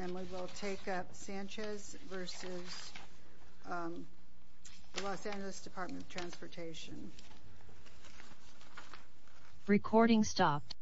And we will take up Sanchez v. Los Angeles Department of Transportation. Recording stopped. Recording stopped.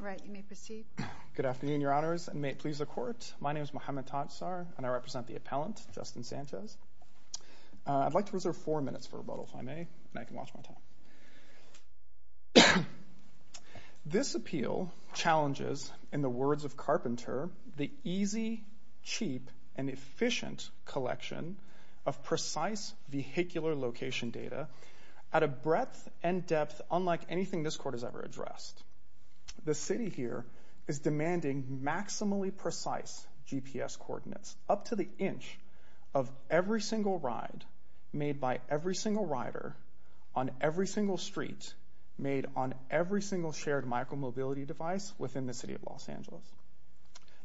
All right, you may proceed. Good afternoon, your honors, and may it please the court. My name is Mohamed Tansar, and I represent the appellant, Justin Sanchez. I'd like to reserve four minutes for rebuttal, if I may, and I can watch my time. This appeal challenges, in the words of Carpenter, the easy, cheap, and efficient collection of precise vehicular location data at a breadth and depth unlike anything this court has ever addressed. The city here is demanding maximally precise GPS coordinates, up to the inch of every single ride made by every single rider on every single street, made on every single shared micromobility device within the city of Los Angeles.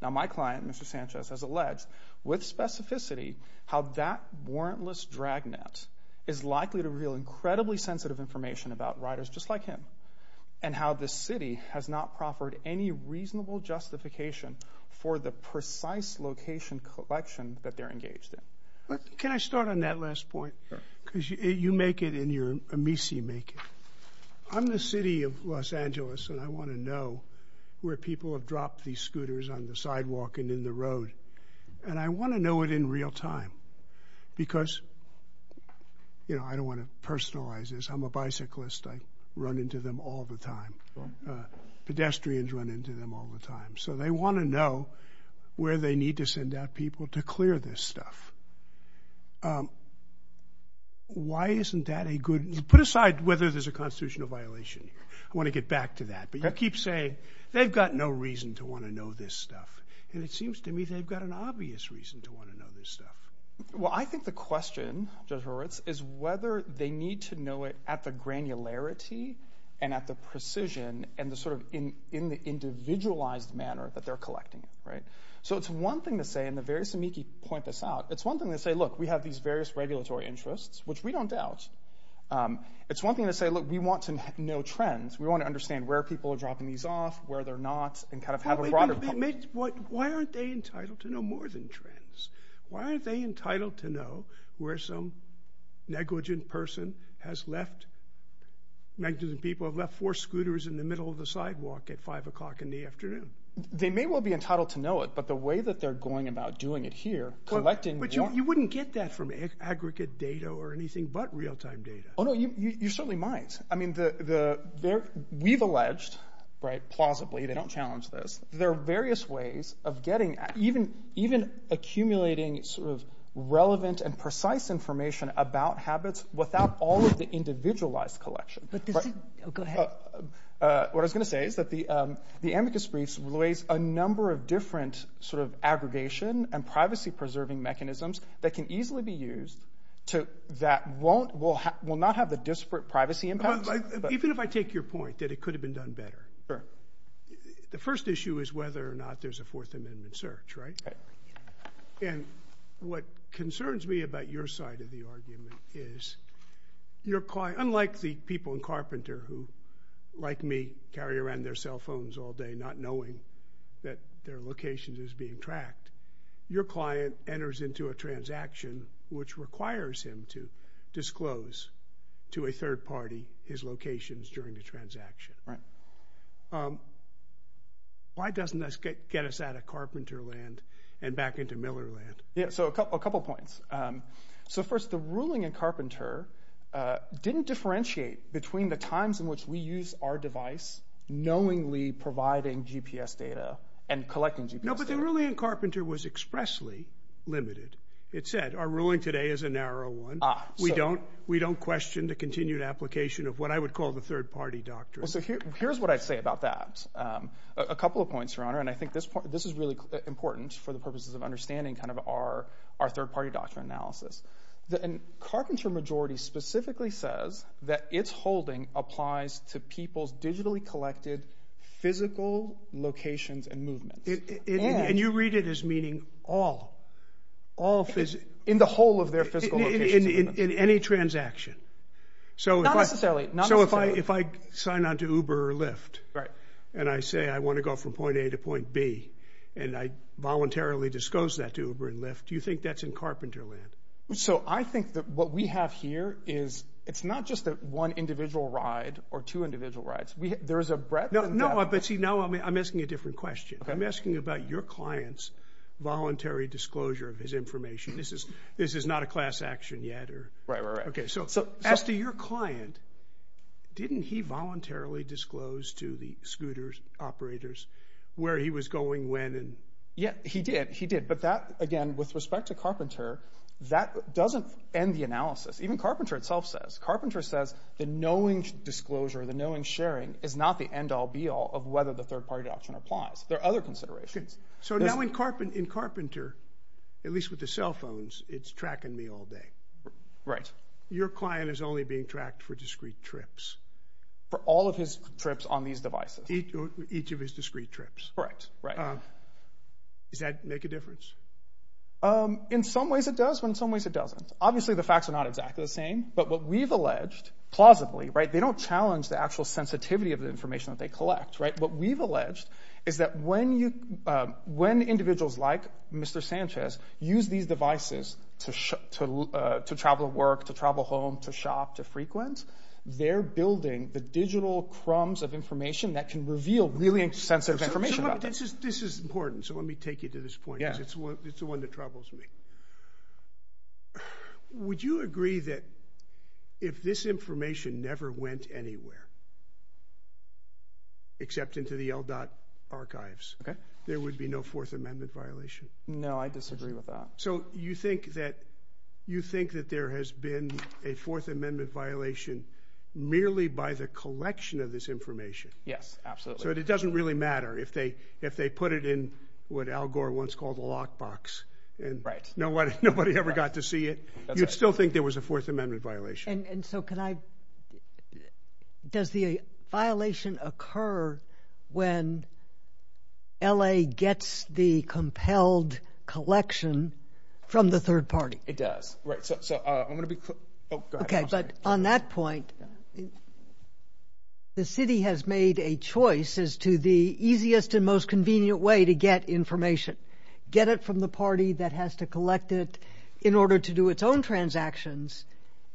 Now, my client, Mr. Sanchez, has alleged, with specificity, how that warrantless dragnet is likely to reveal incredibly sensitive information about riders just like him, and how the city has not proffered any reasonable justification for the precise location collection that they're engaged in. Can I start on that last point? Sure. Because you make it, and your amici make it. I'm the city of Los Angeles, and I want to know where people have dropped these scooters on the sidewalk and in the road. And I want to know it in real time, because, you know, I don't want to personalize this. I'm a bicyclist. I run into them all the time. Pedestrians run into them all the time. So they want to know where they need to send out people to clear this stuff. Why isn't that a good... Put aside whether there's a constitutional violation. I want to get back to that. But you keep saying, they've got no reason to want to know this stuff. And it seems to me they've got an obvious reason to want to know this stuff. Well, I think the question, Judge Horowitz, is whether they need to know it at the granularity and at the precision and the sort of individualized manner that they're collecting it, right? So it's one thing to say, and the various amici point this out, it's one thing to say, look, we have these various regulatory interests, which we don't doubt. It's one thing to say, look, we want to know trends. We want to understand where people are dropping these off, where they're not, and kind of have a broader... Why aren't they entitled to know more than trends? Why aren't they entitled to know where some negligent person has left, negligent people have left four scooters in the middle of the sidewalk at 5 o'clock in the afternoon? They may well be entitled to know it, but the way that they're going about doing it here, collecting... But you wouldn't get that from aggregate data or anything but real-time data. Oh, no, you certainly might. I mean, we've alleged, right, plausibly, they don't challenge this, there are various ways of getting, even accumulating sort of relevant and precise information about habits without all of the individualized collection. Go ahead. What I was going to say is that the amicus briefs raise a number of different sort of aggregation and privacy-preserving mechanisms that can easily be used that will not have a disparate privacy impact. Even if I take your point that it could have been done better, the first issue is whether or not there's a Fourth Amendment search, right? And what concerns me about your side of the argument is, unlike the people in Carpenter who, like me, carry around their cell phones all day not knowing that their location is being tracked, your client enters into a transaction which requires him to disclose to a third party his locations during the transaction. Right. Why doesn't that get us out of Carpenter land and back into Miller land? Yeah, so a couple points. So first, the ruling in Carpenter didn't differentiate between the times in which we use our device knowingly providing GPS data and collecting GPS data. No, but the ruling in Carpenter was expressly limited. It said, our ruling today is a narrow one. We don't question the continued application of what I would call the third party doctrine. Well, so here's what I'd say about that. A couple of points, Your Honor, and I think this is really important for the purposes of understanding our third party doctrine analysis. Carpenter majority specifically says that its holding applies to people's digitally collected physical locations and movements. And you read it as meaning all. In the whole of their physical locations. In any transaction. Not necessarily. So if I sign on to Uber or Lyft, and I say I want to go from point A to point B, and I voluntarily disclose that to Uber and Lyft, do you think that's in Carpenter land? So I think that what we have here is, it's not just one individual ride or two individual rides. There's a breadth. No, but see, now I'm asking a different question. I'm asking about your client's voluntary disclosure of his information. This is not a class action yet. Right, right, right. Okay, so as to your client, didn't he voluntarily disclose to the scooter operators where he was going when? Yeah, he did, he did. But that, again, with respect to Carpenter, that doesn't end the analysis. Even Carpenter itself says, Carpenter says the knowing disclosure, the knowing sharing, is not the end all be all of whether the third party doctrine applies. There are other considerations. So now in Carpenter, at least with the cell phones, it's tracking me all day. Right. Your client is only being tracked for discrete trips. For all of his trips on these devices. Each of his discrete trips. Correct. Does that make a difference? In some ways it does, but in some ways it doesn't. Obviously the facts are not exactly the same, but what we've alleged, plausibly, they don't challenge the actual sensitivity of the information that they collect. What we've alleged is that when individuals like Mr. Sanchez use these devices to travel to work, to travel home, to shop, to frequent, they're building the digital crumbs of information that can reveal really sensitive information about them. This is important, so let me take you to this point, because it's the one that troubles me. Would you agree that if this information never went anywhere, except into the LDOT archives, there would be no Fourth Amendment violation? No, I disagree with that. So you think that there has been a Fourth Amendment violation merely by the collection of this information? Yes, absolutely. So it doesn't really matter if they put it in what Al Gore once called a lockbox and nobody ever got to see it. You'd still think there was a Fourth Amendment violation. And so does the violation occur when L.A. gets the compelled collection from the third party? It does. Okay, but on that point, the city has made a choice as to the easiest and most convenient way to get information. Get it from the party that has to collect it in order to do its own transactions,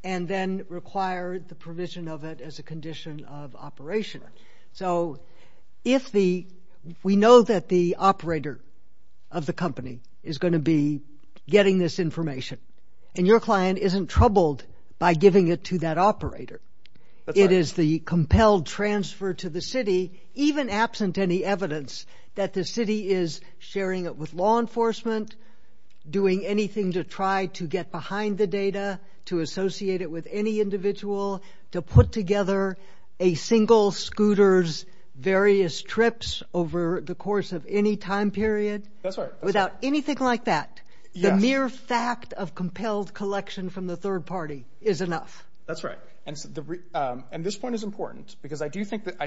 and then require the provision of it as a condition of operation. So we know that the operator of the company is going to be getting this information, and your client isn't troubled by giving it to that operator. It is the compelled transfer to the city, even absent any evidence that the city is sharing it with law enforcement, doing anything to try to get behind the data, to associate it with any individual, to put together a single scooter's various trips over the course of any time period. That's right. Without anything like that, the mere fact of compelled collection from the third party is enough. That's right. And this point is important, because I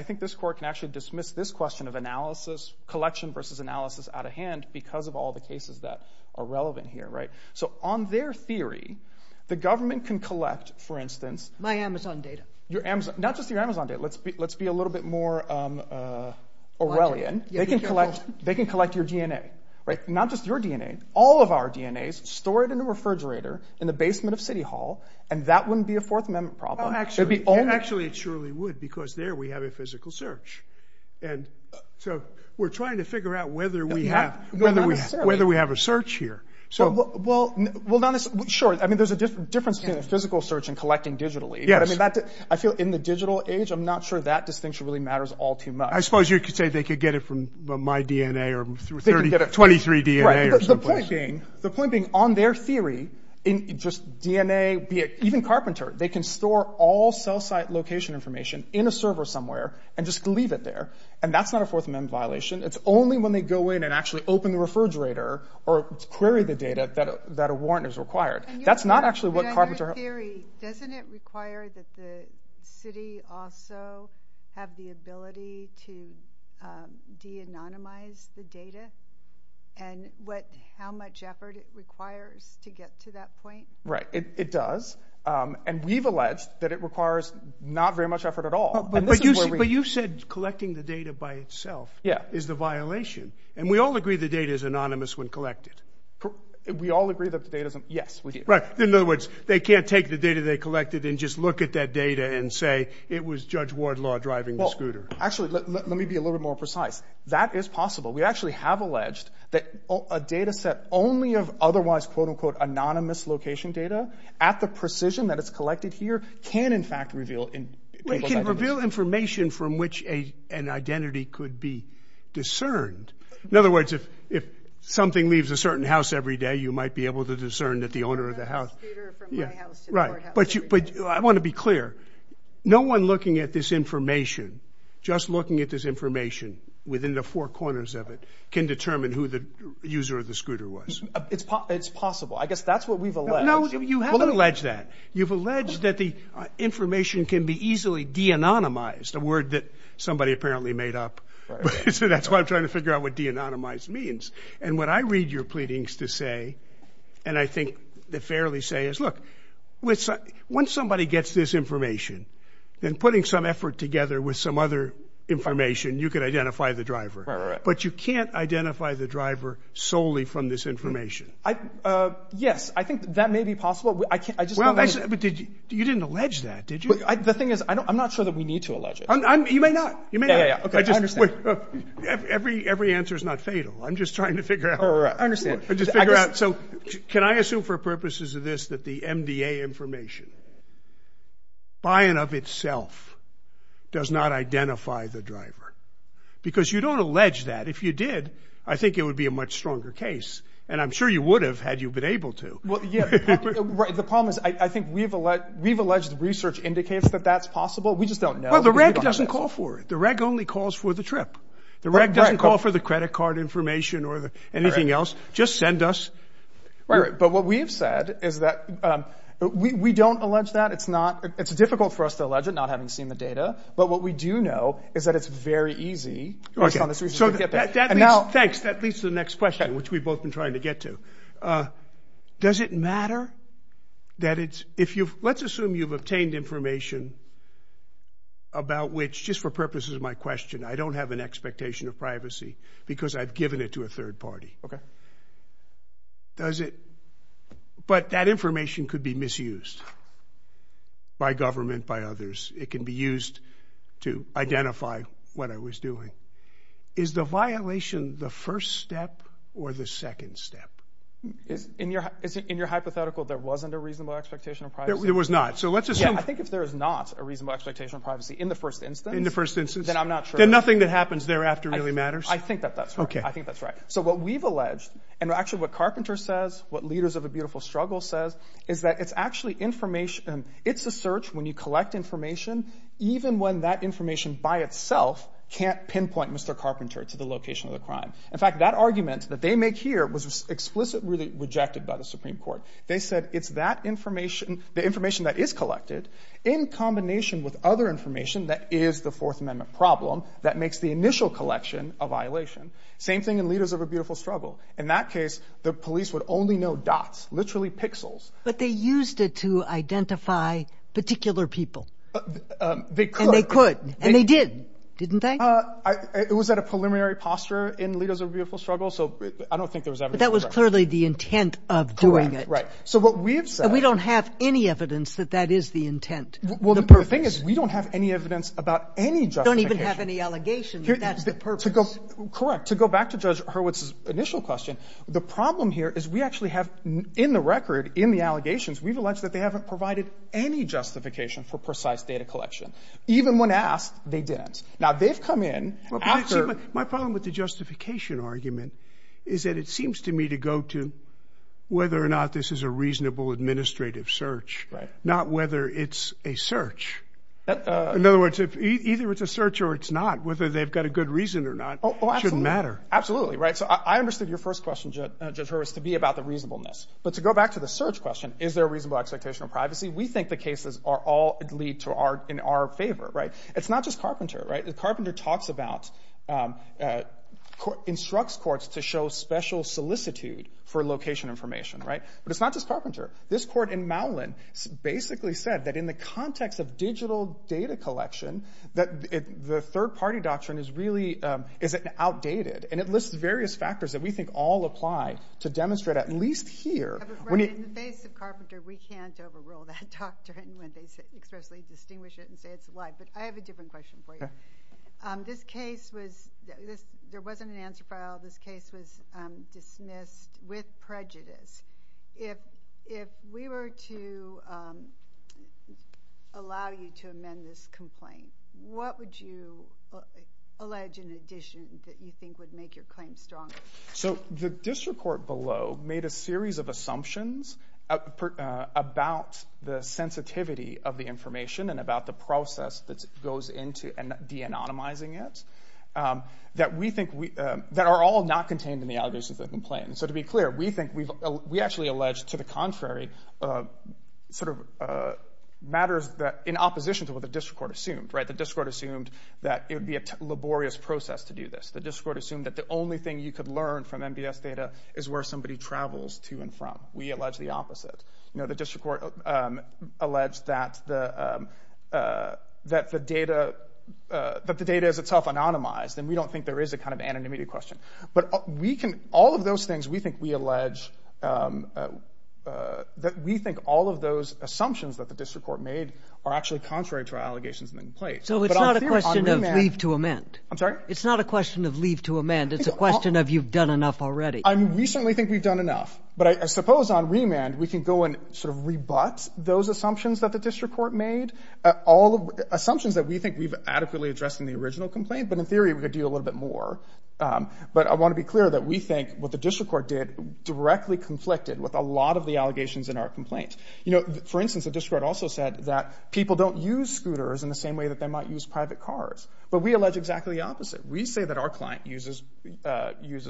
think this Court can actually dismiss this question of analysis, collection versus analysis out of hand because of all the cases that are relevant here. So on their theory, the government can collect, for instance— My Amazon data. Not just your Amazon data. Let's be a little bit more Orwellian. They can collect your DNA. Not just your DNA. All of our DNA is stored in a refrigerator in the basement of City Hall, and that wouldn't be a Fourth Amendment problem. Actually, it surely would, because there we have a physical search. So we're trying to figure out whether we have a search here. Well, sure. There's a difference between a physical search and collecting digitally. I feel in the digital age, I'm not sure that distinction really matters all too much. I suppose you could say they could get it from my DNA or 23DNA. The point being, on their theory, just DNA, even Carpenter, they can store all cell site location information in a server somewhere and just leave it there. And that's not a Fourth Amendment violation. It's only when they go in and actually open the refrigerator or query the data that a warrant is required. That's not actually what Carpenter— On your theory, doesn't it require that the city also have the ability to de-anonymize the data? And how much effort it requires to get to that point? Right. It does. And we've alleged that it requires not very much effort at all. But you said collecting the data by itself is the violation. And we all agree the data is anonymous when collected. We all agree that the data is anonymous. Yes, we do. In other words, they can't take the data they collected and just look at that data and say it was Judge Wardlaw driving the scooter. Actually, let me be a little bit more precise. That is possible. We actually have alleged that a data set only of otherwise quote-unquote anonymous location data at the precision that it's collected here can, in fact, reveal people's identities. It can reveal information from which an identity could be discerned. In other words, if something leaves a certain house every day, you might be able to discern that the owner of the house— I have a scooter from my house to the courthouse every day. Right. But I want to be clear. No one looking at this information, just looking at this information within the four corners of it, can determine who the user of the scooter was. It's possible. I guess that's what we've alleged. No, you haven't alleged that. You've alleged that the information can be easily de-anonymized, a word that somebody apparently made up. Right. So that's why I'm trying to figure out what de-anonymized means. And what I read your pleadings to say, and I think they fairly say, is look, once somebody gets this information, then putting some effort together with some other information, you could identify the driver. Right, right, right. But you can't identify the driver solely from this information. Yes, I think that may be possible. You didn't allege that, did you? The thing is, I'm not sure that we need to allege it. You may not. Yeah, yeah, yeah. I understand. Every answer is not fatal. I'm just trying to figure out. I understand. Can I assume for purposes of this that the MDA information, by and of itself, does not identify the driver? Because you don't allege that. If you did, I think it would be a much stronger case. And I'm sure you would have had you been able to. The problem is, I think we've alleged research indicates that that's possible. We just don't know. Well, the reg doesn't call for it. The reg only calls for the trip. The reg doesn't call for the credit card information or anything else. Just send us. Right, right. But what we've said is that we don't allege that. It's difficult for us to allege it, not having seen the data. But what we do know is that it's very easy, based on this research, to get there. Thanks. That leads to the next question, which we've both been trying to get to. Does it matter that it's – if you've – let's assume you've obtained information about which, just for purposes of my question, I don't have an expectation of privacy because I've given it to a third party. Okay? Does it – but that information could be misused by government, by others. It can be used to identify what I was doing. Is the violation the first step or the second step? In your hypothetical, there wasn't a reasonable expectation of privacy? There was not. So let's assume – Yeah, I think if there is not a reasonable expectation of privacy in the first instance – In the first instance. – then I'm not sure – Then nothing that happens thereafter really matters? I think that that's right. Okay. I think that's right. So what we've alleged, and actually what Carpenter says, what Leaders of a Beautiful Struggle says, is that it's actually information – it's a search when you collect information, even when that information by itself can't pinpoint Mr. Carpenter to the location of the crime. In fact, that argument that they make here was explicitly rejected by the Supreme Court. They said it's that information, the information that is collected, in combination with other information that is the Fourth Amendment problem that makes the initial collection a violation. Same thing in Leaders of a Beautiful Struggle. In that case, the police would only know dots, literally pixels. But they used it to identify particular people. They could. And they could. And they did, didn't they? It was at a preliminary posture in Leaders of a Beautiful Struggle, so I don't think there was evidence of that. But that was clearly the intent of doing it. Correct. Right. So what we have said – And we don't have any evidence that that is the intent, the purpose. Well, the thing is, we don't have any evidence about any justification. We don't even have any allegation that that's the purpose. Correct. To go back to Judge Hurwitz's initial question, the problem here is we actually have in the record, in the allegations, we've alleged that they haven't provided any justification for precise data collection. Even when asked, they didn't. Now, they've come in after – My problem with the justification argument is that it seems to me to go to whether or not this is a reasonable administrative search, not whether it's a search. In other words, either it's a search or it's not, whether they've got a good reason or not shouldn't matter. Absolutely. Absolutely, right? So I understood your first question, Judge Hurwitz, to be about the reasonableness. But to go back to the search question, is there a reasonable expectation of privacy, we think the cases all lead in our favor. It's not just Carpenter. Carpenter talks about – instructs courts to show special solicitude for location information. But it's not just Carpenter. This court in Mowlin basically said that in the context of digital data collection, that the third-party doctrine is really – is outdated. And it lists various factors that we think all apply to demonstrate at least here – Right. In the face of Carpenter, we can't overrule that doctrine when they expressly distinguish it and say it's a lie. But I have a different question for you. This case was – there wasn't an answer file. This case was dismissed with prejudice. If we were to allow you to amend this complaint, what would you allege in addition that you think would make your claim stronger? The district court below made a series of assumptions about the sensitivity of the information and about the process that goes into de-anonymizing it that we think – that are all not contained in the allegation of the complaint. So to be clear, we think – we actually allege to the contrary sort of matters in opposition to what the district court assumed. The district court assumed that it would be a laborious process to do this. The district court assumed that the only thing you could learn from MBS data is where somebody travels to and from. We allege the opposite. The district court alleged that the data is itself anonymized, and we don't think there is a kind of anonymity question. But we can – all of those things we think we allege – that we think all of those assumptions that the district court made are actually contrary to our allegations in the complaint. So it's not a question of leave to amend. I'm sorry? It's not a question of leave to amend. It's a question of you've done enough already. I mean, we certainly think we've done enough. But I suppose on remand, we can go and sort of rebut those assumptions that the district court made, assumptions that we think we've adequately addressed in the original complaint. But in theory, we could do a little bit more. But I want to be clear that we think what the district court did with a lot of the allegations in our complaint. You know, for instance, the district court also said that people don't use scooters in the same way that they might use private cars. But we allege exactly the opposite. We say that our client uses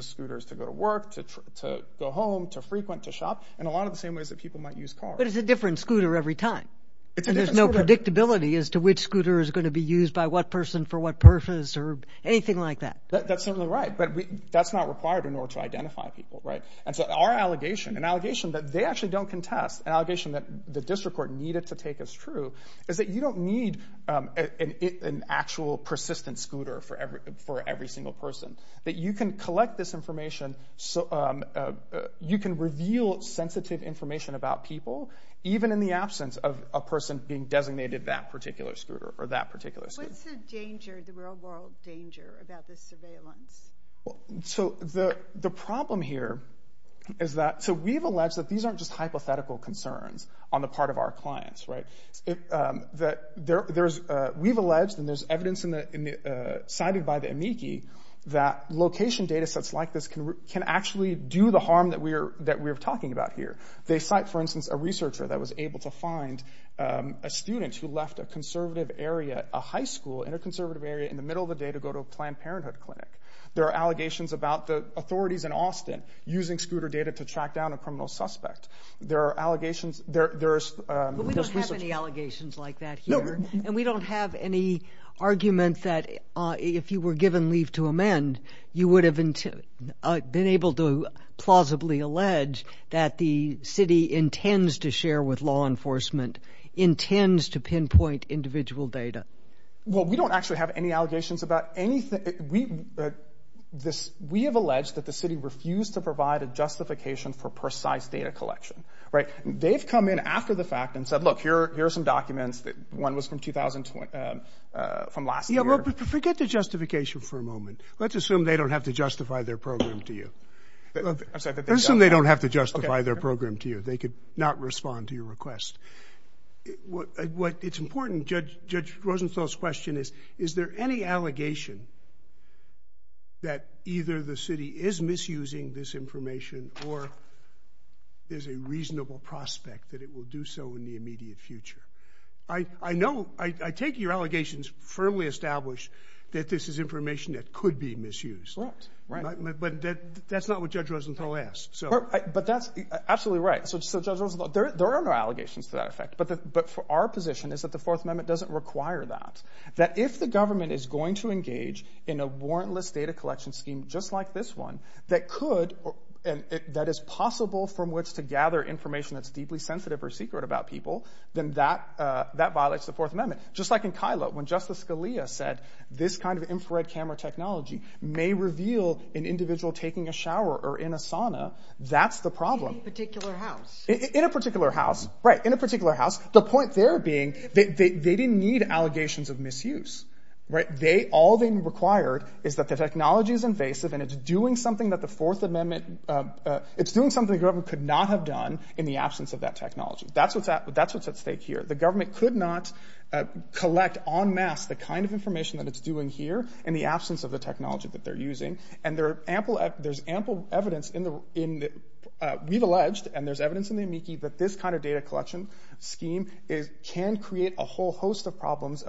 scooters to go to work, to go home, to frequent, to shop, in a lot of the same ways that people might use cars. But it's a different scooter every time. It's a different scooter. And there's no predictability as to which scooter is going to be used by what person for what purpose or anything like that. That's certainly right. But that's not required in order to identify people, right? And so our allegation, an allegation that they actually don't contest, an allegation that the district court needed to take as true, is that you don't need an actual persistent scooter for every single person. That you can collect this information, you can reveal sensitive information about people, even in the absence of a person being designated that particular scooter or that particular scooter. What's the danger, the real-world danger about this surveillance? So the problem here is that, so we've alleged that these aren't just hypothetical concerns on the part of our clients, right? We've alleged, and there's evidence cited by the amici, that location data sets like this can actually do the harm that we're talking about here. They cite, for instance, a researcher that was able to find a student who left a conservative area, a high school in a conservative area, in the middle of the day to go to a Planned Parenthood clinic. There are allegations about the authorities in Austin using scooter data to track down a criminal suspect. There are allegations, there's research. But we don't have any allegations like that here, and we don't have any argument that if you were given leave to amend, you would have been able to plausibly allege that the city intends to share with law enforcement, intends to pinpoint individual data. Well, we don't actually have any allegations about anything. We have alleged that the city refused to provide a justification for precise data collection, right? They've come in after the fact and said, look, here are some documents. One was from last year. Yeah, well, forget the justification for a moment. Let's assume they don't have to justify their program to you. I'm sorry. Let's assume they don't have to justify their program to you. They could not respond to your request. What's important, Judge Rosenthal's question is, is there any allegation that either the city is misusing this information or there's a reasonable prospect that it will do so in the immediate future? I know, I take your allegations firmly established that this is information that could be misused. Right. But that's not what Judge Rosenthal asked. But that's absolutely right. So Judge Rosenthal, there are no allegations to that effect. But our position is that the Fourth Amendment doesn't require that, that if the government is going to engage in a warrantless data collection scheme just like this one that is possible from which to gather information that's deeply sensitive or secret about people, then that violates the Fourth Amendment. Just like in Kilo, when Justice Scalia said this kind of infrared camera technology may reveal an individual taking a shower or in a sauna, that's the problem. In a particular house. In a particular house. Right. In a particular house. The point there being they didn't need allegations of misuse. Right. They, all they required is that the technology is invasive and it's doing something that the Fourth Amendment, it's doing something the government could not have done in the absence of that technology. That's what's at stake here. The government could not collect en masse the kind of information that it's doing here in the absence of the technology that they're using. And there's ample evidence in the, we've alleged, and there's evidence in the amici, that this kind of data collection scheme can create a whole host of problems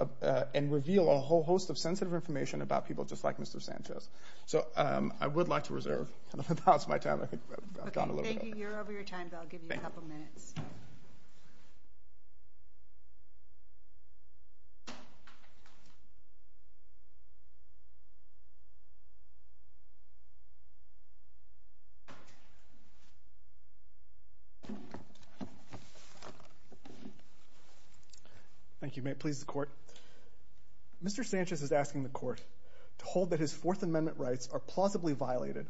and reveal a whole host of sensitive information about people just like Mr. Sanchez. So I would like to reserve the balance of my time. Thank you. You're over your time. I'll give you a couple minutes. Thank you. May it please the Court. Mr. Sanchez is asking the Court to hold that his Fourth Amendment rights are plausibly violated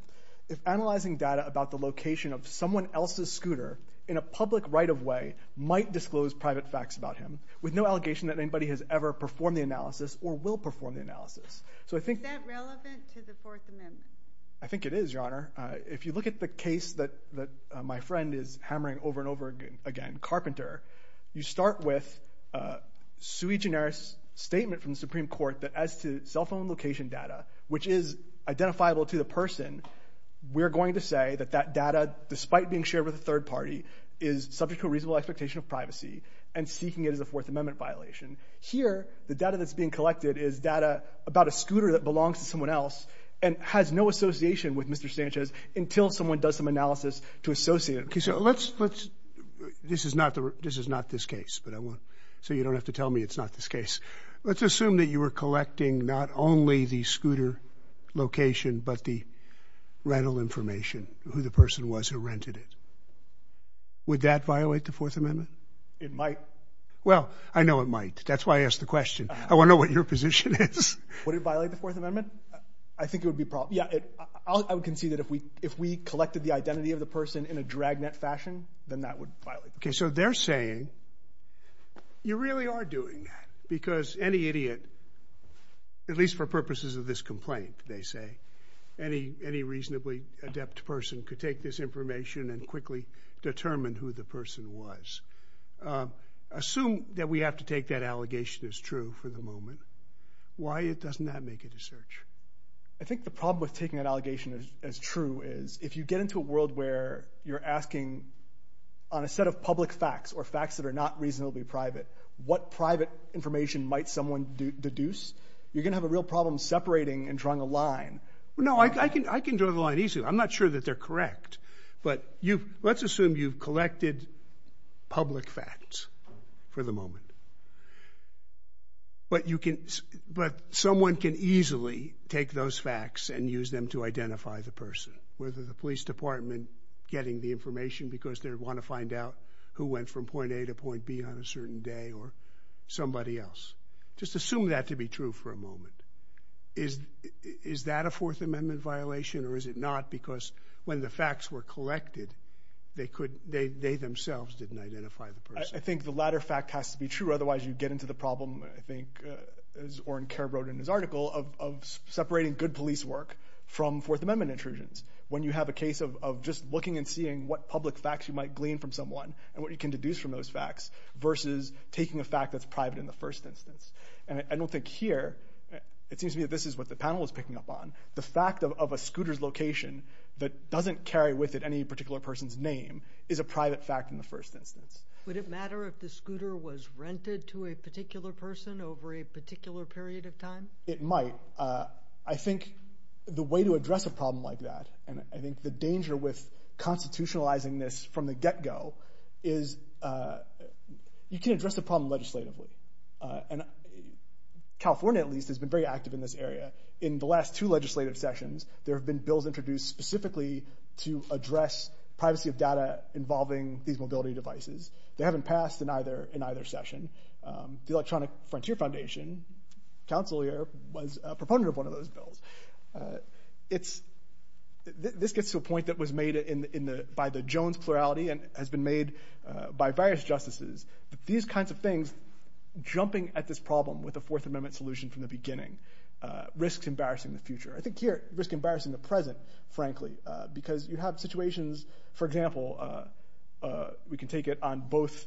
if analyzing data about the location of someone else's scooter in a public right of way might disclose private facts about him with no allegation that anybody has ever performed the analysis or will perform the analysis. Is that relevant to the Fourth Amendment? I think it is, Your Honor. If you look at the case that my friend is hammering over and over again, Carpenter, you start with a sui generis statement from the Supreme Court that as to cell phone location data, which is identifiable to the person, we're going to say that that data, despite being shared with a third party, is subject to a reasonable expectation of privacy and seeking it as a Fourth Amendment violation. Here, the data that's being collected is data about a scooter that belongs to someone else and has no association with Mr. Sanchez until someone does some analysis to associate it. Okay. So let's, this is not this case, so you don't have to tell me it's not this case. Let's assume that you were collecting not only the scooter location but the rental information, who the person was who rented it. Would that violate the Fourth Amendment? It might. Well, I know it might. That's why I asked the question. I want to know what your position is. Would it violate the Fourth Amendment? I think it would be, yeah, I would concede that if we collected the identity of the person in a dragnet fashion, then that would violate the Fourth Amendment. Okay, so they're saying you really are doing that because any idiot, at least for purposes of this complaint, they say, any reasonably adept person could take this information and quickly determine who the person was. Assume that we have to take that allegation as true for the moment. Why doesn't that make it a search? I think the problem with taking that allegation as true is if you get into a world where you're asking on a set of public facts or facts that are not reasonably private, what private information might someone deduce? You're going to have a real problem separating and drawing a line. No, I can draw the line easily. I'm not sure that they're correct. But let's assume you've collected public facts for the moment. But someone can easily take those facts and use them to identify the person, whether the police department getting the information because they want to find out who went from point A to point B on a certain day or somebody else. Just assume that to be true for a moment. Is that a Fourth Amendment violation, or is it not? Because when the facts were collected, they themselves didn't identify the person. I think the latter fact has to be true, otherwise you get into the problem, I think, as Oren Kerr wrote in his article, of separating good police work from Fourth Amendment intrusions. When you have a case of just looking and seeing what public facts you might glean from someone and what you can deduce from those facts versus taking a fact that's private in the first instance. I don't think here, it seems to me that this is what the panel is picking up on, the fact of a scooter's location that doesn't carry with it any particular person's name is a private fact in the first instance. Would it matter if the scooter was rented to a particular person over a particular period of time? It might. I think the way to address a problem like that, and I think the danger with constitutionalizing this from the get-go, is you can't address the problem legislatively. California, at least, has been very active in this area. In the last two legislative sessions, there have been bills introduced specifically to address privacy of data involving these mobility devices. They haven't passed in either session. The Electronic Frontier Foundation, the council here, was a proponent of one of those bills. This gets to a point that was made by the Jones plurality and has been made by various justices. These kinds of things, jumping at this problem with a Fourth Amendment solution from the beginning, risks embarrassing the future. I think here, it risks embarrassing the present, frankly, because you have situations, for example, we can take it on both...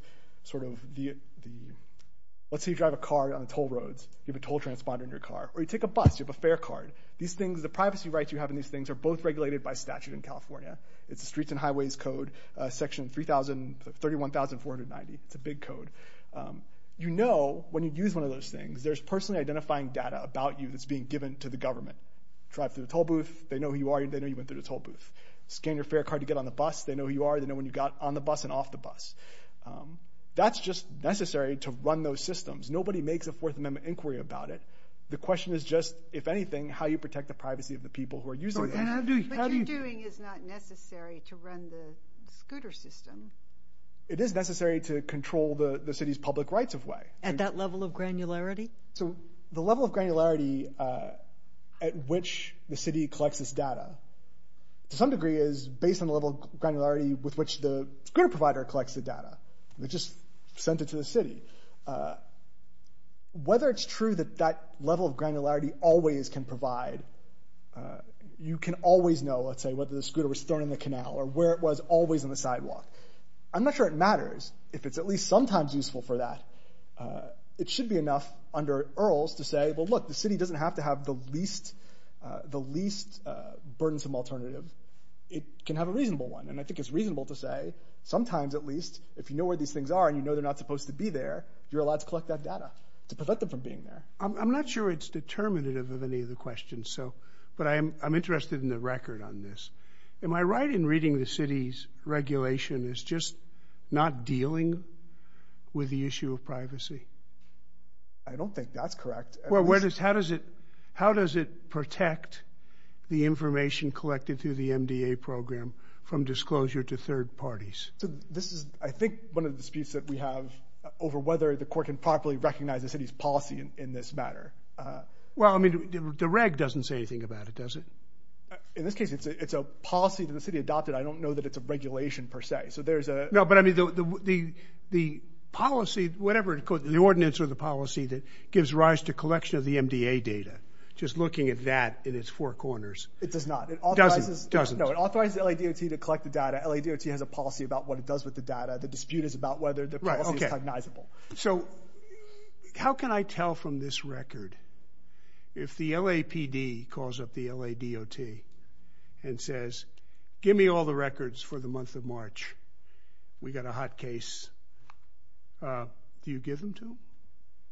Let's say you drive a car on toll roads, you have a toll transponder in your car, or you take a bus, you have a fare card. The privacy rights you have in these things are both regulated by statute in California. It's the Streets and Highways Code, section 31490. It's a big code. You know, when you use one of those things, there's personally identifying data about you that's being given to the government. Drive through the toll booth, they know who you are, they know you went through the toll booth. Scan your fare card to get on the bus, they know who you are, they know when you got on the bus and off the bus. That's just necessary to run those systems. Nobody makes a Fourth Amendment inquiry about it. The question is just, if anything, how you protect the privacy of the people who are using it. But what you're doing is not necessary to run the scooter system. It is necessary to control the city's public rights of way. At that level of granularity? So the level of granularity at which the city collects this data... to some degree is based on the level of granularity with which the scooter provider collects the data. They just sent it to the city. Whether it's true that that level of granularity always can provide... you can always know, let's say, whether the scooter was thrown in the canal or where it was always on the sidewalk. I'm not sure it matters, if it's at least sometimes useful for that. It should be enough under EARLS to say, well, look, the city doesn't have to have the least burdensome alternative. It can have a reasonable one. And I think it's reasonable to say, sometimes at least, if you know where these things are and you know they're not supposed to be there, you're allowed to collect that data to prevent them from being there. I'm not sure it's determinative of any of the questions, but I'm interested in the record on this. Am I right in reading the city's regulation as just not dealing with the issue of privacy? I don't think that's correct. Well, how does it protect the information collected through the MDA program from disclosure to third parties? So this is, I think, one of the disputes that we have over whether the court can properly recognize the city's policy in this matter. Well, I mean, the reg doesn't say anything about it, does it? In this case, it's a policy that the city adopted. I don't know that it's a regulation, per se. So there's a... No, but I mean, the policy, whatever it's called, the ordinance or the policy that gives rise to collection of the MDA data, just looking at that in its four corners... It does not. It authorizes... Doesn't. No, it authorizes the LADOT to collect the data. LADOT has a policy about what it does with the data. The dispute is about whether the policy is cognizable. So how can I tell from this record if the LAPD calls up the LADOT and says, give me all the records for the month of March? We got a hot case. Do you give them to them?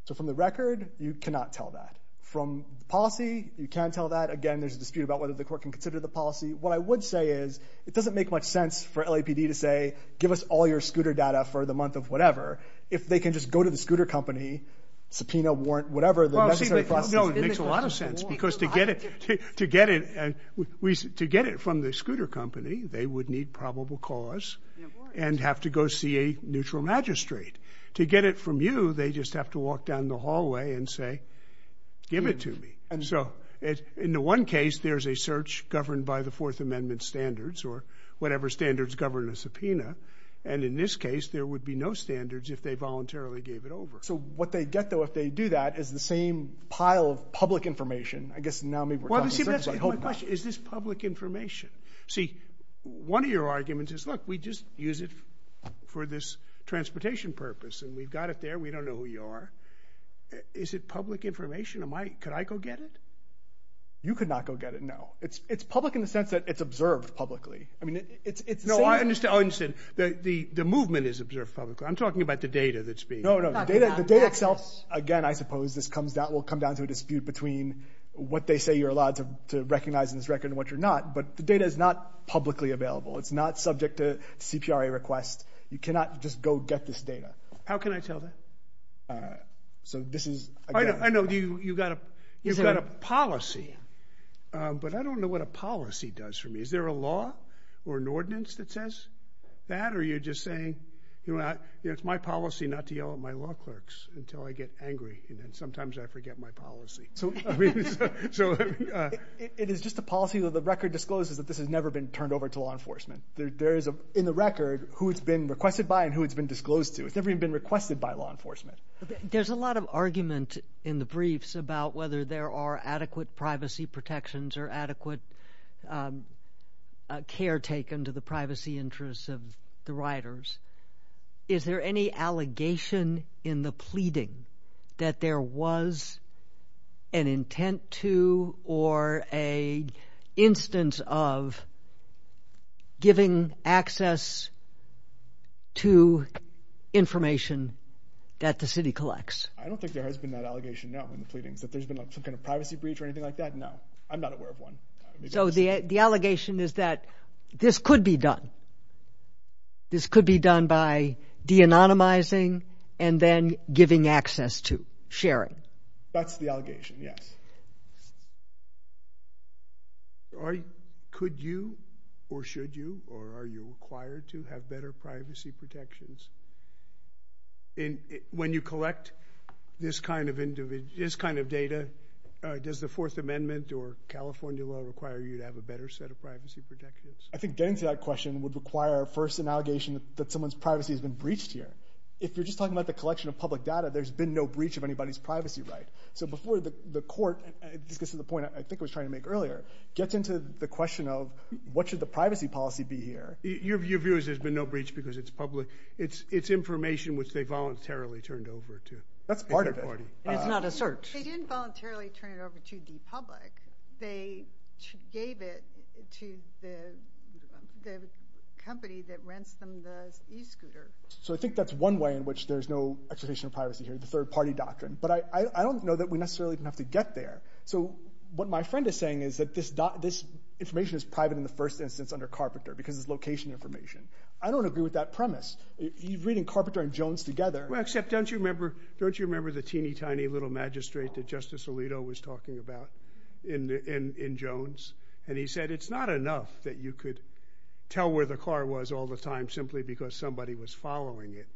So from the record, you cannot tell that. From the policy, you can tell that. Again, there's a dispute about whether the court can consider the policy. What I would say is, it doesn't make much sense for LAPD to say, give us all your scooter data for the month of whatever. If they can just go to the scooter company, subpoena, warrant, whatever... No, it makes a lot of sense, because to get it... To get it from the scooter company, they would need probable cause and have to go see a neutral magistrate. To get it from you, they just have to walk down the hallway and say, give it to me. And so in the one case, there's a search governed by the Fourth Amendment standards or whatever standards govern a subpoena. And in this case, there would be no standards if they voluntarily gave it over. So what they'd get, though, if they do that, is the same pile of public information. I guess now maybe we're talking... Well, see, that's my question. Is this public information? See, one of your arguments is, look, we just use it for this transportation purpose, and we've got it there, we don't know who you are. Is it public information? Could I go get it? You could not go get it, no. It's public in the sense that it's observed publicly. No, I understand. The movement is observed publicly. I'm talking about the data that's being... No, no, the data itself, again, I suppose, this will come down to a dispute between what they say you're allowed to recognize in this record and what you're not, but the data is not publicly available. It's not subject to CPRA requests. You cannot just go get this data. How can I tell that? So this is, again... I know, you've got a policy, but I don't know what a policy does for me. Is there a law or an ordinance that says that, or are you just saying, you know, it's my policy not to yell at my law clerks until I get angry, and then sometimes I forget my policy. I mean, so... It is just a policy that the record discloses that this has never been turned over to law enforcement. There is, in the record, who it's been requested by and who it's been disclosed to. It's never even been requested by law enforcement. There's a lot of argument in the briefs about whether there are adequate privacy protections or adequate care taken to the privacy interests of the riders. Is there any allegation in the pleading that there was an intent to or an instance of giving access to information that the city collects? I don't think there has been that allegation, no, in the pleadings. That there's been some kind of privacy breach or anything like that? No, I'm not aware of one. So the allegation is that this could be done. This could be done by de-anonymizing and then giving access to, sharing. That's the allegation, yes. Could you, or should you, or are you required to have better privacy protections? When you collect this kind of data, does the Fourth Amendment or California law require you to have a better set of privacy protections? I think getting to that question would require first an allegation that someone's privacy has been breached here. If you're just talking about the collection of public data, there's been no breach of anybody's privacy right. So before the court, this gets to the point I think I was trying to make earlier, gets into the question of what should the privacy policy be here? Your view is there's been no breach because it's public. It's information which they voluntarily turned over to. That's part of it. And it's not a search. They didn't voluntarily turn it over to the public. They gave it to the company that rents them the e-scooter. So I think that's one way in which there's no expectation of privacy here, the third-party doctrine. But I don't know that we necessarily have to get there. So what my friend is saying is that this information is private in the first instance under Carpenter because it's location information. I don't agree with that premise. Reading Carpenter and Jones together... Except don't you remember the teeny tiny little magistrate that Justice Alito was talking about in Jones? And he said it's not enough that you could tell where the car was all the time simply because somebody was following it.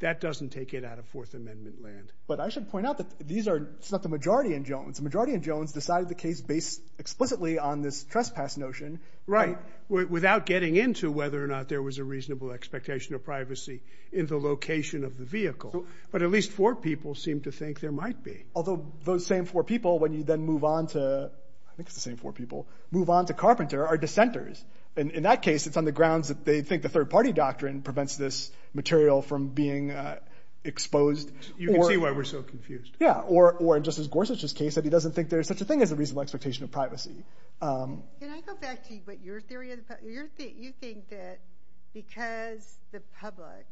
That doesn't take it out of Fourth Amendment land. But I should point out that these are... It's not the majority in Jones. The majority in Jones decided the case based explicitly on this trespass notion... Right, without getting into whether or not there was a reasonable expectation of privacy in the location of the vehicle. But at least four people seem to think there might be. Although those same four people, when you then move on to... I think it's the same four people... move on to Carpenter are dissenters. In that case, it's on the grounds that they think the third party doctrine prevents this material from being exposed. You can see why we're so confused. Yeah, or in Justice Gorsuch's case, that he doesn't think there's such a thing as a reasonable expectation of privacy. Can I go back to what your theory is? You think that because the public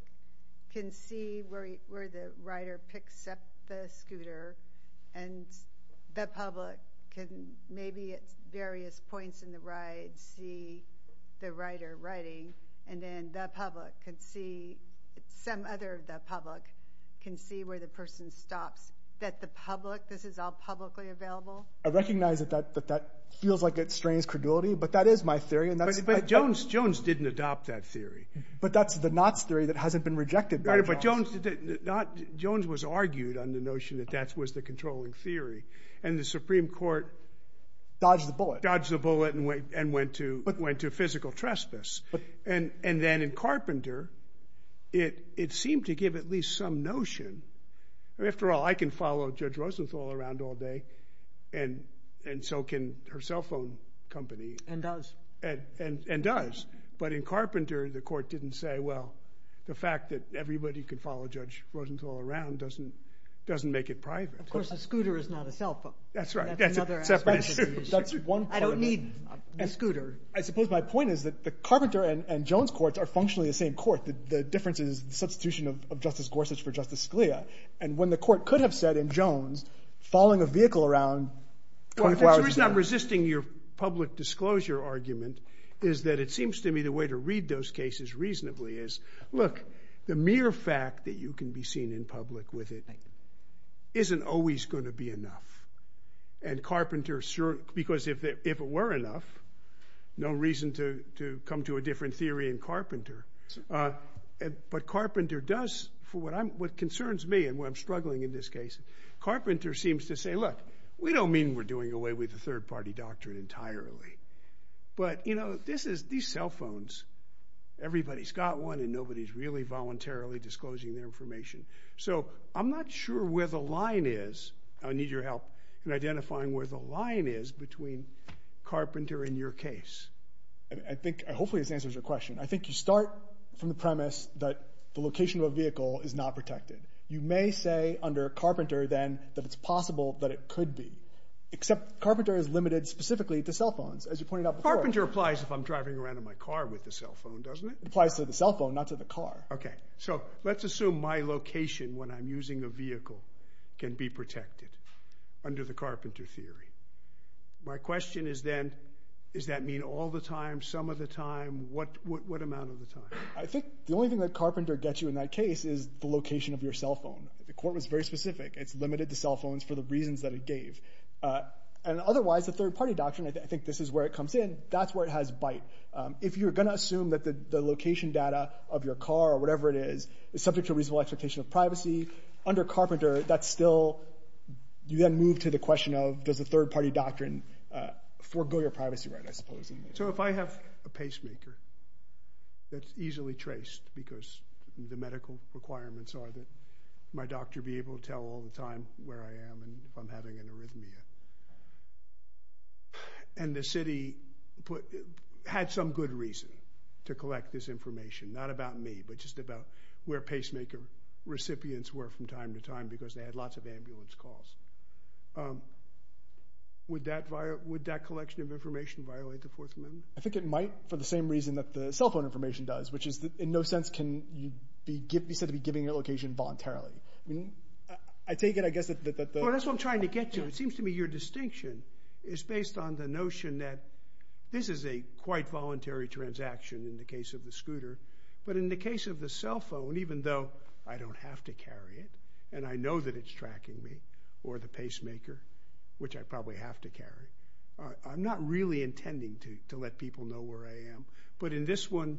can see where the rider picks up the scooter and the public can maybe at various points in the ride see the rider riding, and then the public can see, some other of the public can see where the person stops, that the public, this is all publicly available? I recognize that that feels like it strains credulity, but that is my theory, and that's... But Jones didn't adopt that theory. But that's the Knotts theory that hasn't been rejected by Jones. Right, but Jones was argued on the notion that that was the controlling theory, and the Supreme Court... Dodged the bullet. Dodged the bullet and went to physical trespass. And then in Carpenter, it seemed to give at least some notion. After all, I can follow Judge Rosenthal around all day, and so can her cell phone company. And does. And does. But in Carpenter, the court didn't say, well, the fact that everybody can follow Judge Rosenthal around doesn't make it private. Of course, a scooter is not a cell phone. That's right, that's a separate issue. I don't need the scooter. I suppose my point is that the Carpenter and Jones courts are functionally the same court. The difference is the substitution of Justice Gorsuch for Justice Scalia. And when the court could have said in Jones, following a vehicle around... The reason I'm resisting your public disclosure argument is that it seems to me the way to read those cases reasonably is, look, the mere fact that you can be seen in public with it isn't always going to be enough. And Carpenter... Because if it were enough, no reason to come to a different theory in Carpenter. But Carpenter does... What concerns me and what I'm struggling in this case, Carpenter seems to say, look, we don't mean we're doing away with the third-party doctrine entirely. But, you know, these cell phones, everybody's got one and nobody's really voluntarily disclosing their information. So I'm not sure where the line is. I need your help in identifying where the line is between Carpenter and your case. Hopefully this answers your question. I think you start from the premise that the location of a vehicle is not protected. You may say under Carpenter then that it's possible that it could be. Except Carpenter is limited specifically to cell phones, as you pointed out before. Carpenter applies if I'm driving around in my car with a cell phone, doesn't it? It applies to the cell phone, not to the car. Okay, so let's assume my location when I'm using a vehicle can be protected under the Carpenter theory. My question is then, does that mean all the time, some of the time? What amount of the time? I think the only thing that Carpenter gets you in that case is the location of your cell phone. The court was very specific. It's limited to cell phones for the reasons that it gave. And otherwise, the third-party doctrine, I think this is where it comes in, that's where it has bite. If you're going to assume that the location data of your car or whatever it is is subject to a reasonable expectation of privacy, under Carpenter that's still – you then move to the question of does the third-party doctrine forego your privacy right, I suppose. So if I have a pacemaker that's easily traced because the medical requirements are that my doctor be able to tell all the time where I am and if I'm having an arrhythmia, and the city had some good reason to collect this information, not about me but just about where pacemaker recipients were from time to time because they had lots of ambulance calls, would that collection of information violate the Fourth Amendment? I think it might for the same reason that the cell phone information does, which is that in no sense can you be said to be giving your location voluntarily. I take it, I guess, that the – it seems to me your distinction is based on the notion that this is a quite voluntary transaction in the case of the scooter, but in the case of the cell phone, even though I don't have to carry it and I know that it's tracking me or the pacemaker, which I probably have to carry, I'm not really intending to let people know where I am. But in this one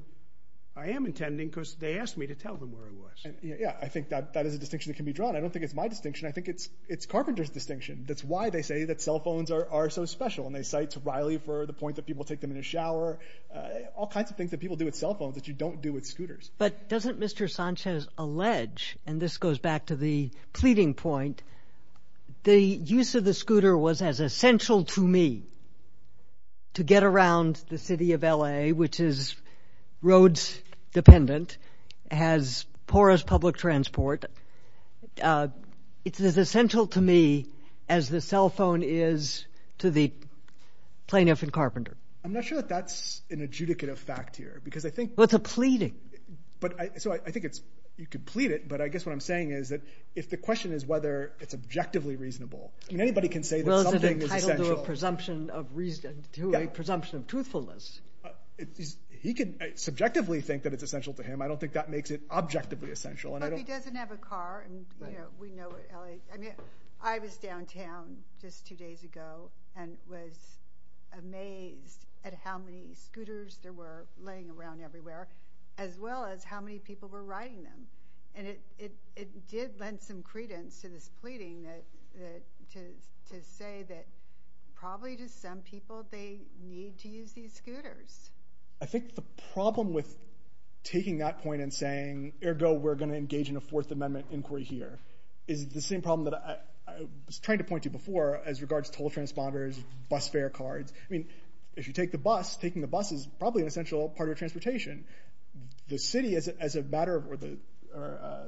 I am intending because they asked me to tell them where I was. Yeah, I think that is a distinction that can be drawn. I don't think it's my distinction. I think it's Carpenter's distinction. That's why they say that cell phones are so special, and they cite Riley for the point that people take them in the shower, all kinds of things that people do with cell phones that you don't do with scooters. But doesn't Mr. Sanchez allege, and this goes back to the pleading point, the use of the scooter was as essential to me to get around the city of L.A., which is roads dependent, has porous public transport. It's as essential to me as the cell phone is to the plaintiff in Carpenter. I'm not sure that that's an adjudicative fact here. Well, it's a pleading. So I think you could plead it, but I guess what I'm saying is that if the question is whether it's objectively reasonable, I mean anybody can say that something is essential. Well, is it entitled to a presumption of truthfulness? He can subjectively think that it's essential to him. I don't think that makes it objectively essential. But he doesn't have a car, and we know what L.A. I mean, I was downtown just two days ago and was amazed at how many scooters there were laying around everywhere, as well as how many people were riding them. And it did lend some credence to this pleading to say that probably to some people they need to use these scooters. I think the problem with taking that point and saying, ergo we're going to engage in a Fourth Amendment inquiry here, is the same problem that I was trying to point to before as regards toll transponders, bus fare cards. I mean, if you take the bus, taking the bus is probably an essential part of transportation. The city, or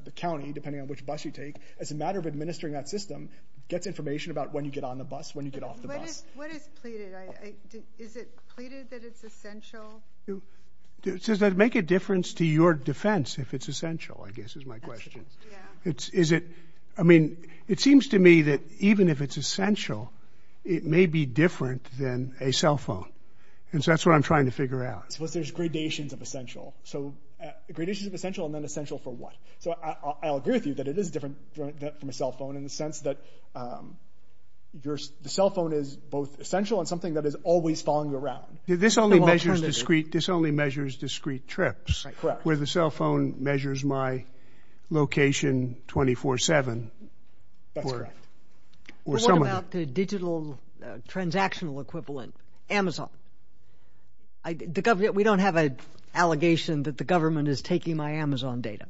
the county, depending on which bus you take, as a matter of administering that system, gets information about when you get on the bus, when you get off the bus. What is pleaded? Is it pleaded that it's essential? Does that make a difference to your defense if it's essential, I guess is my question. I mean, it seems to me that even if it's essential, it may be different than a cell phone. And so that's what I'm trying to figure out. Suppose there's gradations of essential. So gradations of essential and then essential for what? So I'll agree with you that it is different from a cell phone in the sense that the cell phone is both essential and something that is always following you around. This only measures discrete trips, where the cell phone measures my location 24-7. That's correct. What about the digital transactional equivalent, Amazon? We don't have an allegation that the government is taking my Amazon data.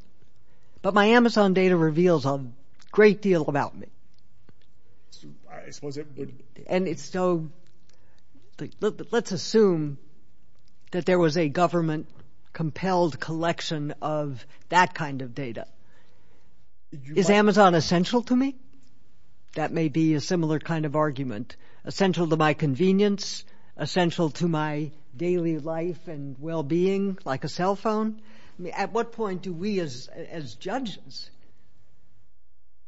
But my Amazon data reveals a great deal about me. And so let's assume that there was a government-compelled collection of that kind of data. Is Amazon essential to me? That may be a similar kind of argument. Essential to my convenience? Essential to my daily life and well-being like a cell phone? At what point do we, as judges,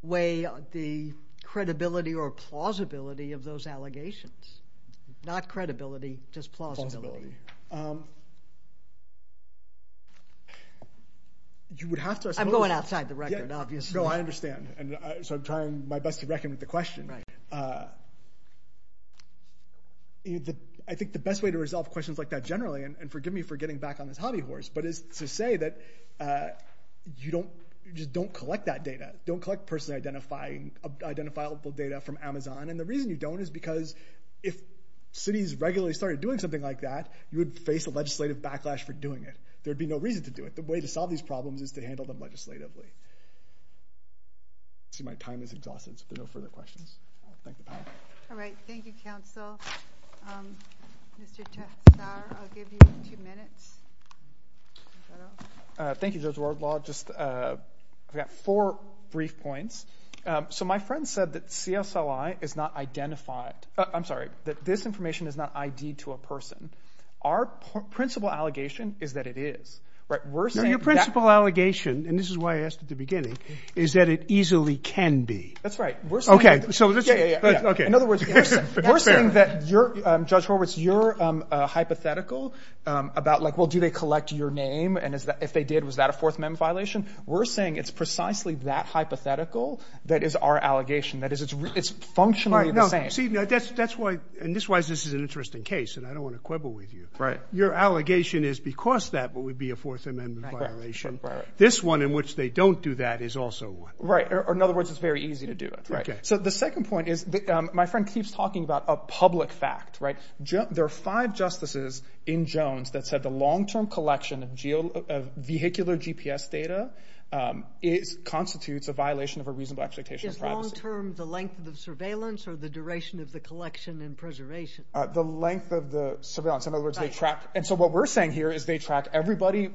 weigh the credibility or plausibility of those allegations? Not credibility, just plausibility. I'm going outside the record, obviously. No, I understand. So I'm trying my best to reckon with the question. I think the best way to resolve questions like that generally, and forgive me for getting back on this hobby horse, but is to say that you just don't collect that data. Don't collect person-identifiable data from Amazon. And the reason you don't is because if cities regularly started doing something like that, you would face a legislative backlash for doing it. There would be no reason to do it. The way to solve these problems is to handle them legislatively. See, my time is exhausted, so no further questions. Thank you. All right. Thank you, counsel. Mr. Tessar, I'll give you two minutes. Thank you, Judge Wardlaw. I've got four brief points. So my friend said that CSLI is not identified. I'm sorry, that this information is not ID'd to a person. Our principal allegation is that it is. Your principal allegation, and this is why I asked at the beginning, is that it easily can be. That's right. In other words, we're saying that you're, Judge Horwitz, you're hypothetical about, like, well, do they collect your name, and if they did, was that a Fourth Amendment violation? We're saying it's precisely that hypothetical that is our allegation, that it's functionally the same. See, that's why, and this is why this is an interesting case, and I don't want to quibble with you. Your allegation is because that would be a Fourth Amendment violation. This one in which they don't do that is also one. Right, or in other words, it's very easy to do it. So the second point is, my friend keeps talking about a public fact. There are five justices in Jones that said the long-term collection of vehicular GPS data constitutes a violation of a reasonable expectation of privacy. Is long-term the length of the surveillance or the duration of the collection and preservation? The length of the surveillance. In other words, they track, and so what we're saying here is they track everybody,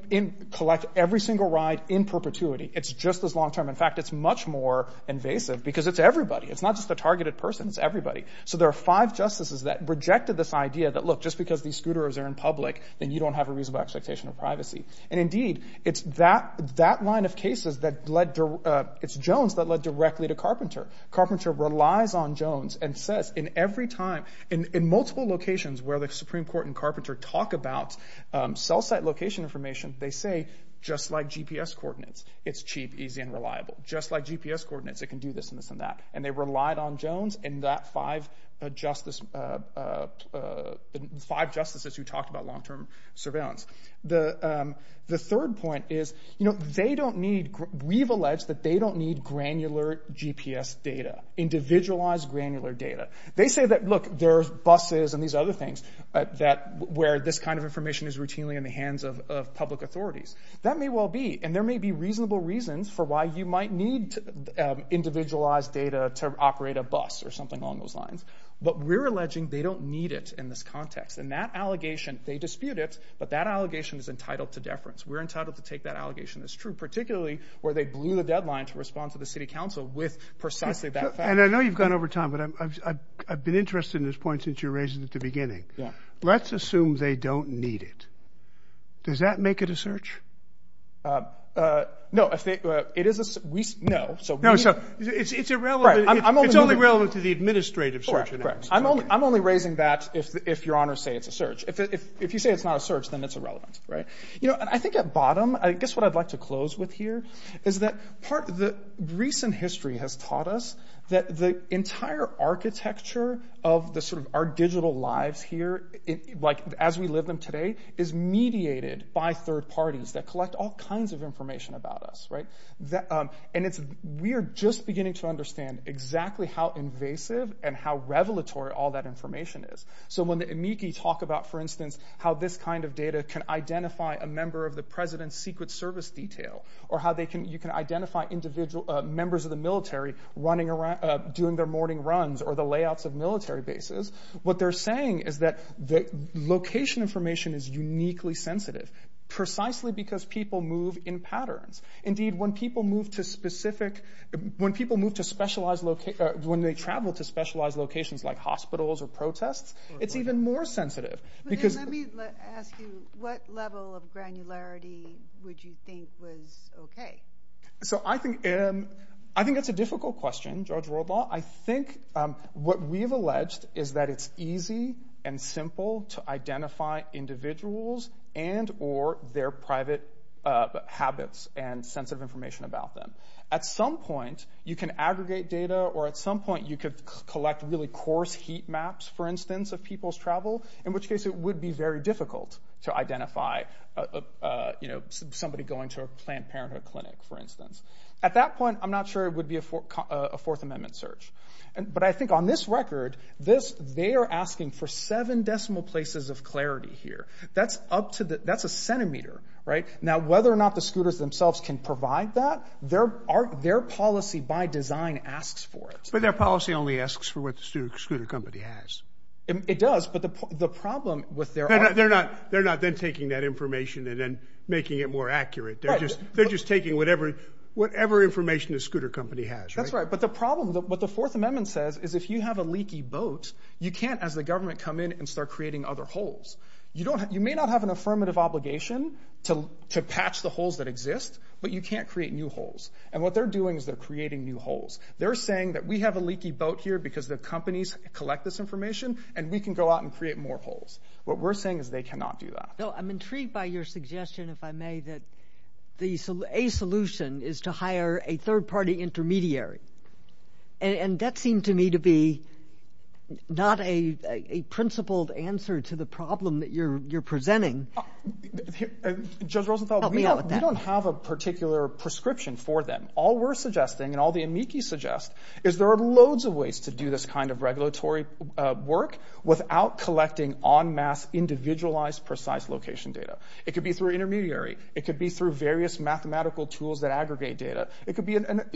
collect every single ride in perpetuity. It's just as long-term. In fact, it's much more invasive because it's everybody. It's not just the targeted person. It's everybody. So there are five justices that rejected this idea that look, just because these scooters are in public, then you don't have a reasonable expectation of privacy. And indeed, it's that line of cases that led, it's Jones that led directly to Carpenter. Carpenter relies on Jones and says in every time, in multiple locations where the Supreme Court and Carpenter talk about cell site location information, they say, just like GPS coordinates, it's cheap, easy, and reliable. Just like GPS coordinates, it can do this and this and that. And they relied on Jones and that five justices who talked about long-term surveillance. The third point is they don't need, we've alleged that they don't need granular GPS data, individualized granular data. They say that, look, there's buses and these other things where this kind of information is routinely in the hands of public authorities. That may well be, and there may be reasonable reasons for why you might need individualized data to operate a bus or something along those lines. But we're alleging they don't need it in this context. And that allegation, they dispute it, but that allegation is entitled to deference. We're entitled to take that allegation as true, particularly where they blew the deadline to respond to the city council with precisely that fact. And I know you've gone over time, but I've been interested in this point since you raised it at the beginning. Let's assume they don't need it. Does that make it a search? No, it is a, we, no. No, so it's irrelevant. It's only relevant to the administrative search. Correct, correct. I'm only raising that if your honors say it's a search. If you say it's not a search, then it's irrelevant, right? You know, and I think at bottom, I guess what I'd like to close with here is that part of the recent history has taught us that the entire architecture of the sort of our digital lives here, like as we live them today, is mediated by third parties that collect all kinds of information about us, right? And we are just beginning to understand exactly how invasive and how revelatory all that information is. So when the amici talk about, for instance, how this kind of data can identify a member of the president's secret service detail, or how you can identify members of the military running around, doing their morning runs, or the layouts of military bases, what they're saying is that location information is uniquely sensitive, precisely because people move in patterns. Indeed, when people move to specific, when people move to specialized, when they travel to specialized locations like hospitals or protests, it's even more sensitive. Let me ask you, what level of granularity would you think was okay? So I think that's a difficult question, George Woldlaw. I think what we've alleged is that it's easy and simple to identify individuals and or their private habits and sensitive information about them. At some point, you can aggregate data, or at some point you could collect really coarse heat maps, for instance, of people's travel, in which case it would be very difficult to identify somebody going to a Planned Parenthood clinic, for instance. At that point, I'm not sure it would be a Fourth Amendment search. But I think on this record, they are asking for seven decimal places of clarity here. That's a centimeter, right? Now, whether or not the scooters themselves can provide that, their policy by design asks for it. But their policy only asks for what the scooter company has. It does, but the problem with their... They're not then taking that information and then making it more accurate. They're just taking whatever information the scooter company has, right? That's right, but the problem... What the Fourth Amendment says is if you have a leaky boat, you can't, as the government, come in and start creating other holes. You may not have an affirmative obligation to patch the holes that exist, but you can't create new holes. And what they're doing is they're creating new holes. They're saying that we have a leaky boat here because the companies collect this information and we can go out and create more holes. What we're saying is they cannot do that. No, I'm intrigued by your suggestion, if I may, that a solution is to hire a third-party intermediary. And that seemed to me to be not a principled answer to the problem that you're presenting. Judge Rosenthal, we don't have a particular prescription for them. All we're suggesting and all the amici suggest is there are loads of ways to do this kind of regulatory work without collecting en masse, individualized, precise location data. It could be through an intermediary. It could be through various mathematical tools that aggregate data.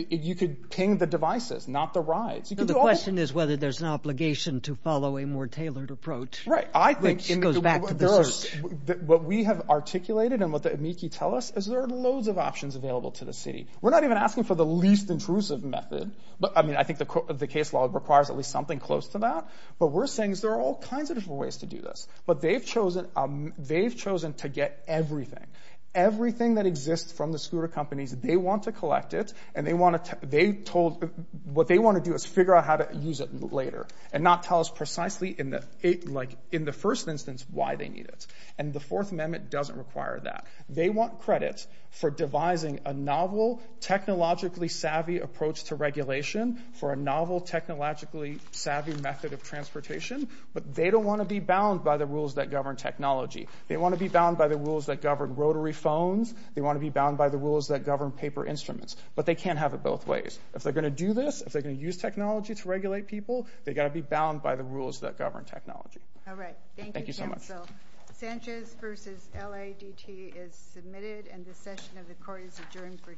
You could ping the devices, not the rides. The question is whether there's an obligation to follow a more tailored approach, which goes back to the search. What we have articulated and what the amici tell us is there are loads of options available to the city. We're not even asking for the least intrusive method. I think the case law requires at least something close to that. But we're saying there are all kinds of different ways to do this. But they've chosen to get everything. Everything that exists from the scooter companies, they want to collect it. What they want to do is figure out how to use it later and not tell us precisely in the first instance why they need it. The Fourth Amendment doesn't require that. They want credit for devising a novel, technologically savvy approach to regulation for a novel, technologically savvy method of transportation. But they don't want to be bound by the rules that govern technology. that govern rotary phones. They want to be bound by the rules that govern paper instruments. But they can't have it both ways. If they're going to do this, if they're going to use technology to regulate people, they've got to be bound by the rules that govern technology. Thank you so much. Sanchez v. LADT is submitted and the session of the court is adjourned for today.